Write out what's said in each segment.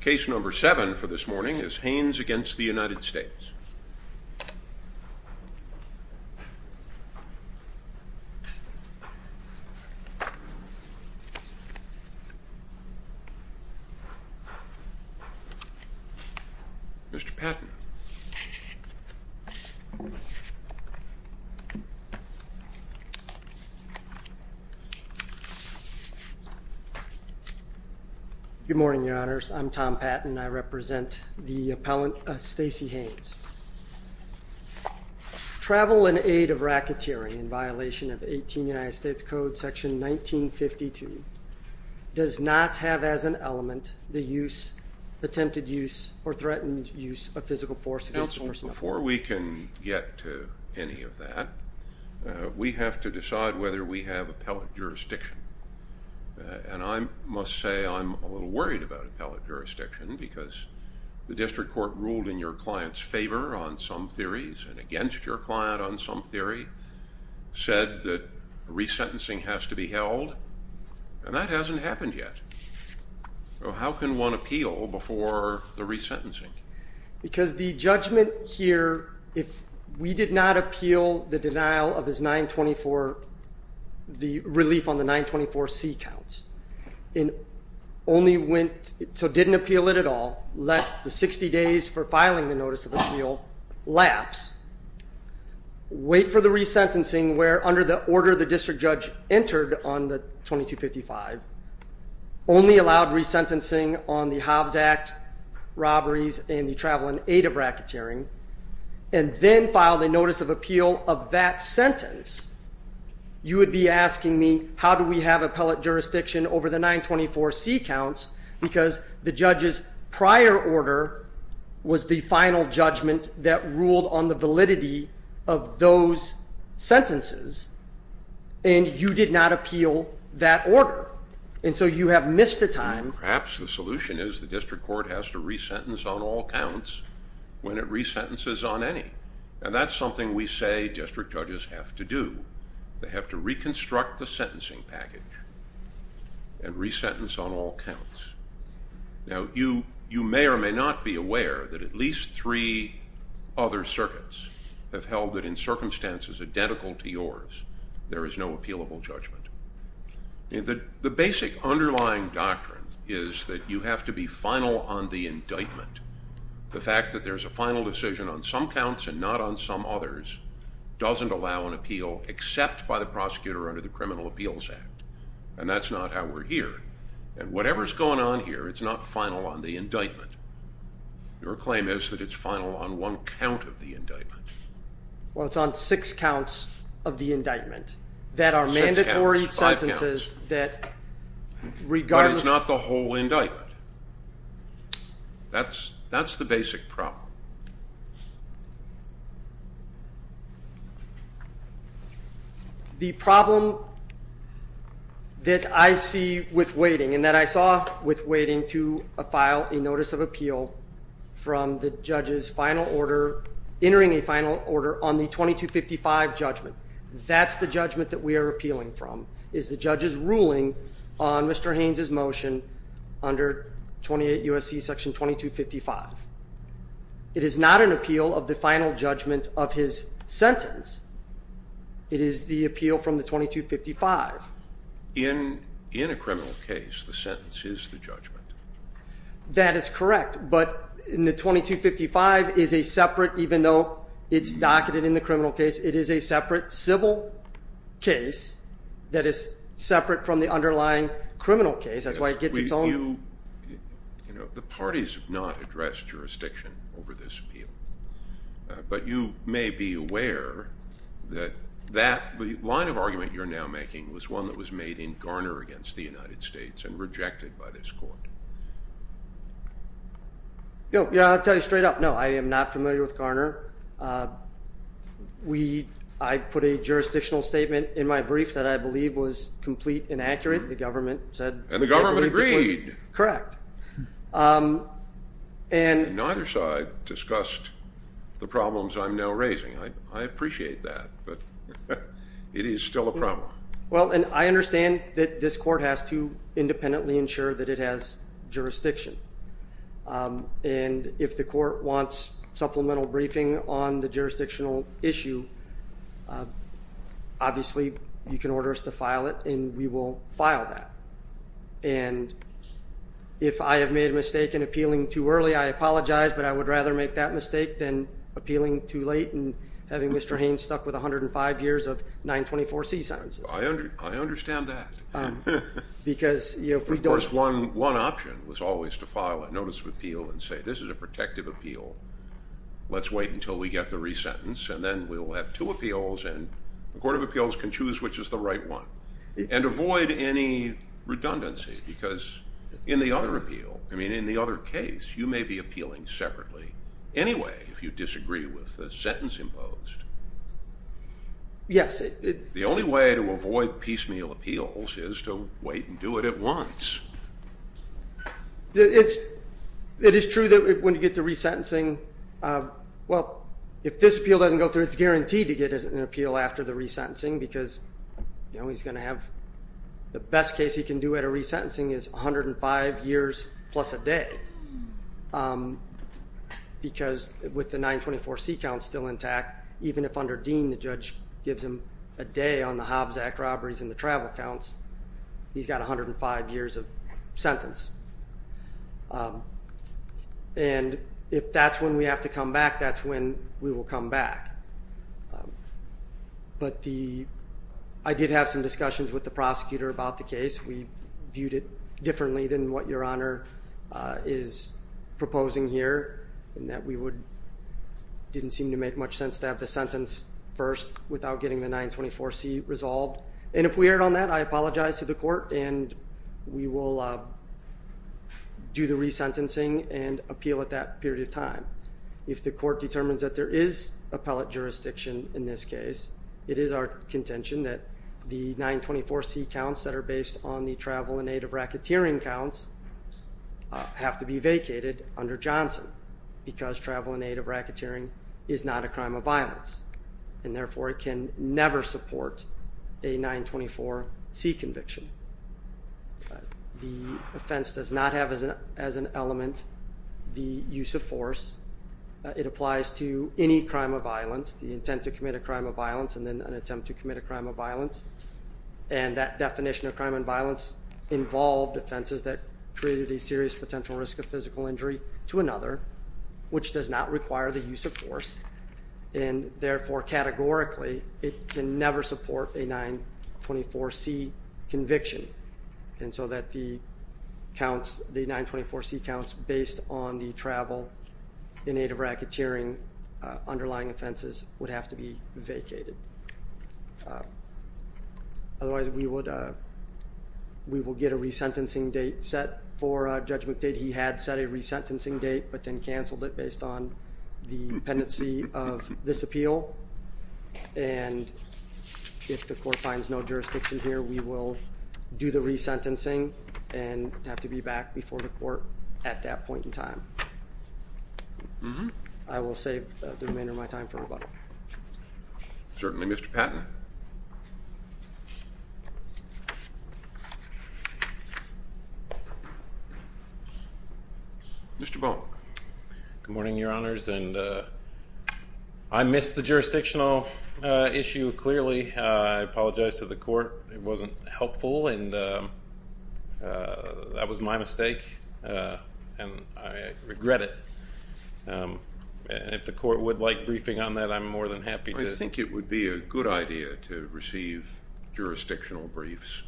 Case number seven for this morning is Haynes v. United States Mr. Patton Good morning, your honors. I'm Tom Patton. I represent the appellant Stacey Haynes. Travel and aid of racketeering in violation of 18 United States Code section 1952 does not have as an element the use, attempted use, or threatened use of physical force against a person of color. Counsel, before we can get to any of that, we have to decide whether we have appellate jurisdiction. And I must say I'm a little worried about appellate jurisdiction because the district court ruled in your client's favor on some theories and against your client on some theory, said that resentencing has to be held, and that hasn't happened yet. So how can one appeal before the resentencing? Because the judgment here, if we did not appeal the denial of his 924, the relief on the 924C counts, and only went, so didn't appeal it at all, let the 60 days for filing the notice of appeal lapse, wait for the resentencing where under the order the district judge entered on the 2255, only allowed resentencing on the Hobbs Act, robberies, and the travel and aid of racketeering, and then filed a notice of appeal of that sentence, you would be asking me how do we have appellate jurisdiction over the 924C counts because the judge's prior order was the final judgment that ruled on the validity of those sentences, and you did not appeal that order. And so you have missed the time. Perhaps the solution is the district court has to resentence on all counts when it resentences on any, and that's something we say district judges have to do. They have to reconstruct the sentencing package and resentence on all counts. Now, you may or may not be aware that at least three other circuits have held that in circumstances identical to yours, there is no appealable judgment. The basic underlying doctrine is that you have to be final on the indictment. The fact that there's a final decision on some counts and not on some others doesn't allow an appeal except by the prosecutor under the Criminal Appeals Act, and that's not how we're here. And whatever's going on here, it's not final on the indictment. Your claim is that it's final on one count of the indictment. Well, it's on six counts of the indictment that are mandatory sentences that regardless. But it's not the whole indictment. That's the basic problem. The problem that I see with waiting and that I saw with waiting to file a notice of appeal from the judge's final order entering a final order on the 2255 judgment. That's the judgment that we are appealing from is the judge's ruling on Mr. Haynes's motion under 28 USC section 2255. It is not an appeal of the final judgment of his sentence. It is the appeal from the 2255 in in a criminal case. The sentence is the judgment. That is correct. But in the 2255 is a separate, even though it's docketed in the criminal case, it is a separate civil case that is separate from the underlying criminal case. That's why it gets its own. You know, the parties have not addressed jurisdiction over this appeal, but you may be aware that that line of argument you're now making was one that was made in Garner against the United States and rejected by this court. Yeah, I'll tell you straight up. No, I am not familiar with Garner. We I put a jurisdictional statement in my brief that I believe was complete and accurate. The government said the government agreed. Correct. And neither side discussed the problems I'm now raising. I appreciate that, but it is still a problem. Well, and I understand that this court has to independently ensure that it has jurisdiction. And if the court wants supplemental briefing on the jurisdictional issue, obviously, you can order us to file it and we will file that. And if I have made a mistake in appealing too early, I apologize, but I would rather make that mistake than appealing too late and having Mr. Haynes stuck with 105 years of 924C sentences. I understand that. Of course, one option was always to file a notice of appeal and say, this is a protective appeal. Let's wait until we get the resentence and then we'll have two appeals and the Court of Appeals can choose which is the right one. And avoid any redundancy because in the other appeal, I mean, in the other case, you may be appealing separately anyway if you disagree with the sentence imposed. Yes. The only way to avoid piecemeal appeals is to wait and do it at once. It is true that when you get the resentencing, well, if this appeal doesn't go through, it's guaranteed to get an appeal after the resentencing because, you know, he's going to have the best case he can do at a resentencing is 105 years plus a day. Because with the 924C count still intact, even if under Dean, the judge gives him a day on the Hobbs Act robberies and the travel counts, he's got 105 years of sentence. And if that's when we have to come back, that's when we will come back. But the I did have some discussions with the prosecutor about the case. We viewed it differently than what your honor is proposing here and that we would didn't seem to make much sense to have the sentence first without getting the 924C resolved. And if we heard on that, I apologize to the court and we will do the resentencing and appeal at that period of time. If the court determines that there is appellate jurisdiction in this case, it is our contention that the 924C counts that are based on the travel and aid of racketeering counts have to be vacated under Johnson because travel and aid of racketeering is not a crime of violence. And therefore, it can never support a 924C conviction. The offense does not have as an as an element the use of force. It applies to any crime of violence, the intent to commit a crime of violence and then an attempt to commit a crime of violence. And that definition of crime and violence involved offenses that created a serious potential risk of physical injury to another, which does not require the use of force. And therefore, categorically, it can never support a 924C conviction. And so that the counts, the 924C counts based on the travel in aid of racketeering underlying offenses would have to be vacated. Otherwise, we would, we will get a resentencing date set for Judge McDade. He had set a resentencing date, but then canceled it based on the dependency of this appeal. And if the court finds no jurisdiction here, we will do the resentencing and have to be back before the court at that point in time. I will save the remainder of my time for rebuttal. Certainly, Mr. Patton. Mr. Baum. Good morning, Your Honors. And I missed the jurisdictional issue clearly. I apologize to the court. It wasn't helpful. And that was my mistake. And I regret it. And if the court would like briefing on that, I'm more than happy to. I think it would be a good idea to receive jurisdictional briefs.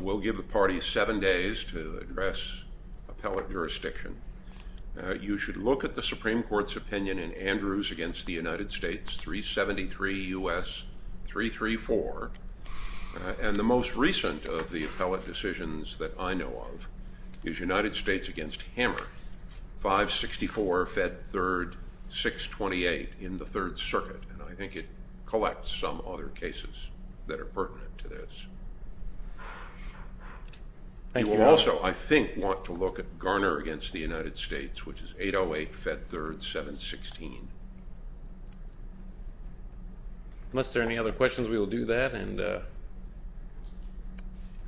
We'll give the party seven days to address appellate jurisdiction. You should look at the Supreme Court's opinion in Andrews against the United States, 373 U.S., 334. And the most recent of the appellate decisions that I know of is United States against Hammer, 564 Fed 3rd, 628 in the Third Circuit. And I think it collects some other cases that are pertinent to this. You will also, I think, want to look at Garner against the United States, which is 808 Fed 3rd, 716. Unless there are any other questions, we will do that.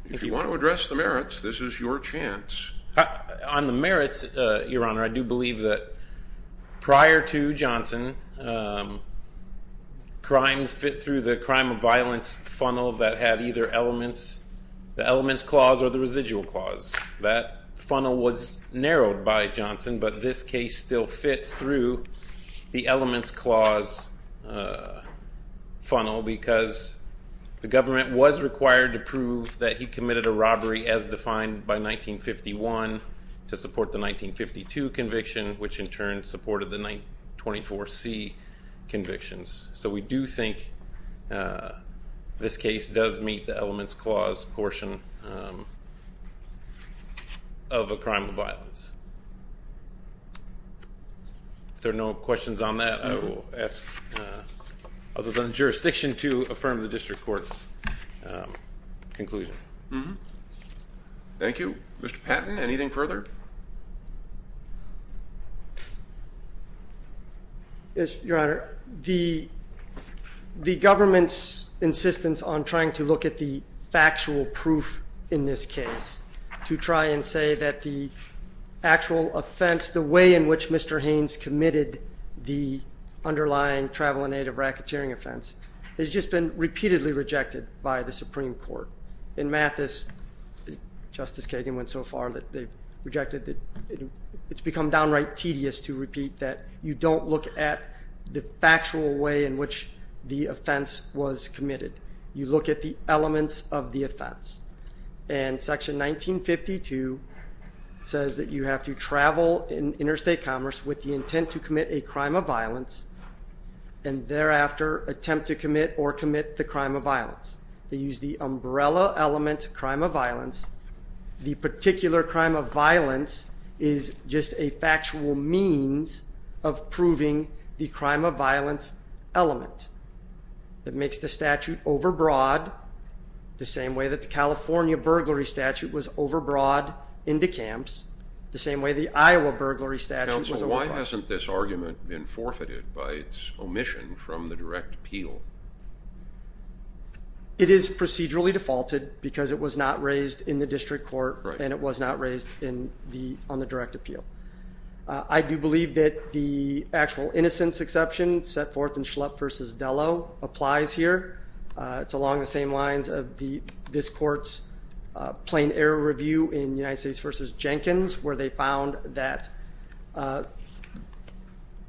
If you want to address the merits, this is your chance. On the merits, Your Honor, I do believe that prior to Johnson, crimes fit through the crime of violence funnel that had either the elements clause or the residual clause. That funnel was narrowed by Johnson, but this case still fits through the elements clause funnel because the government was required to prove that he committed a robbery as defined by 1951 to support the 1952 conviction, which in turn supported the 24C convictions. So we do think this case does meet the elements clause portion of a crime of violence. If there are no questions on that, I will ask other than the jurisdiction to affirm the district court's conclusion. Thank you. Mr. Patton, anything further? Yes, Your Honor. The government's insistence on trying to look at the factual proof in this case to try and say that the actual offense, the way in which Mr. Haynes committed the underlying travel and aid of racketeering offense has just been repeatedly rejected by the Supreme Court. In Mathis, Justice Kagan went so far that they rejected it. It's become downright tedious to repeat that you don't look at the factual way in which the offense was committed. You look at the elements of the offense. And section 1952 says that you have to travel in interstate commerce with the intent to commit a crime of violence and thereafter attempt to commit or commit the crime of violence. They use the umbrella element of crime of violence. The particular crime of violence is just a factual means of proving the crime of violence element. It makes the statute overbroad the same way that the California burglary statute was overbroad in the camps, the same way the Iowa burglary statute was overbroad. Counsel, why hasn't this argument been forfeited by its omission from the direct appeal? It is procedurally defaulted because it was not raised in the district court and it was not raised on the direct appeal. I do believe that the actual innocence exception set forth in Schlepp v. Delo applies here. It's along the same lines of this court's plain error review in United States v. Jenkins where they found that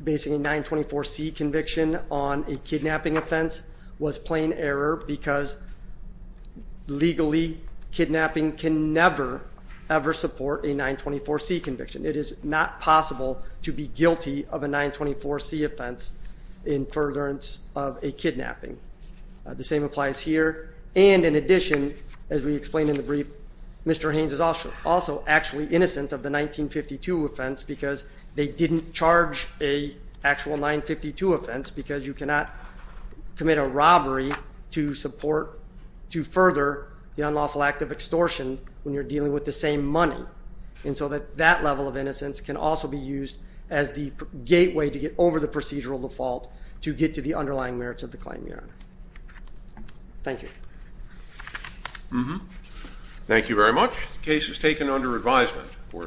basically a 924C conviction on a kidnapping offense was plain error because legally kidnapping can never, ever support a 924C conviction. It is not possible to be guilty of a 924C offense in furtherance of a kidnapping. The same applies here. And in addition, as we explained in the brief, Mr. Haynes is also actually innocent of the 1952 offense because they didn't charge an actual 952 offense because you cannot commit a robbery to support, to further the unlawful act of extortion when you're dealing with the same money. And so that level of innocence can also be used as the gateway to get over the procedural default to get to the underlying merits of the plain error. Thank you. Thank you very much. The case is taken under advisement.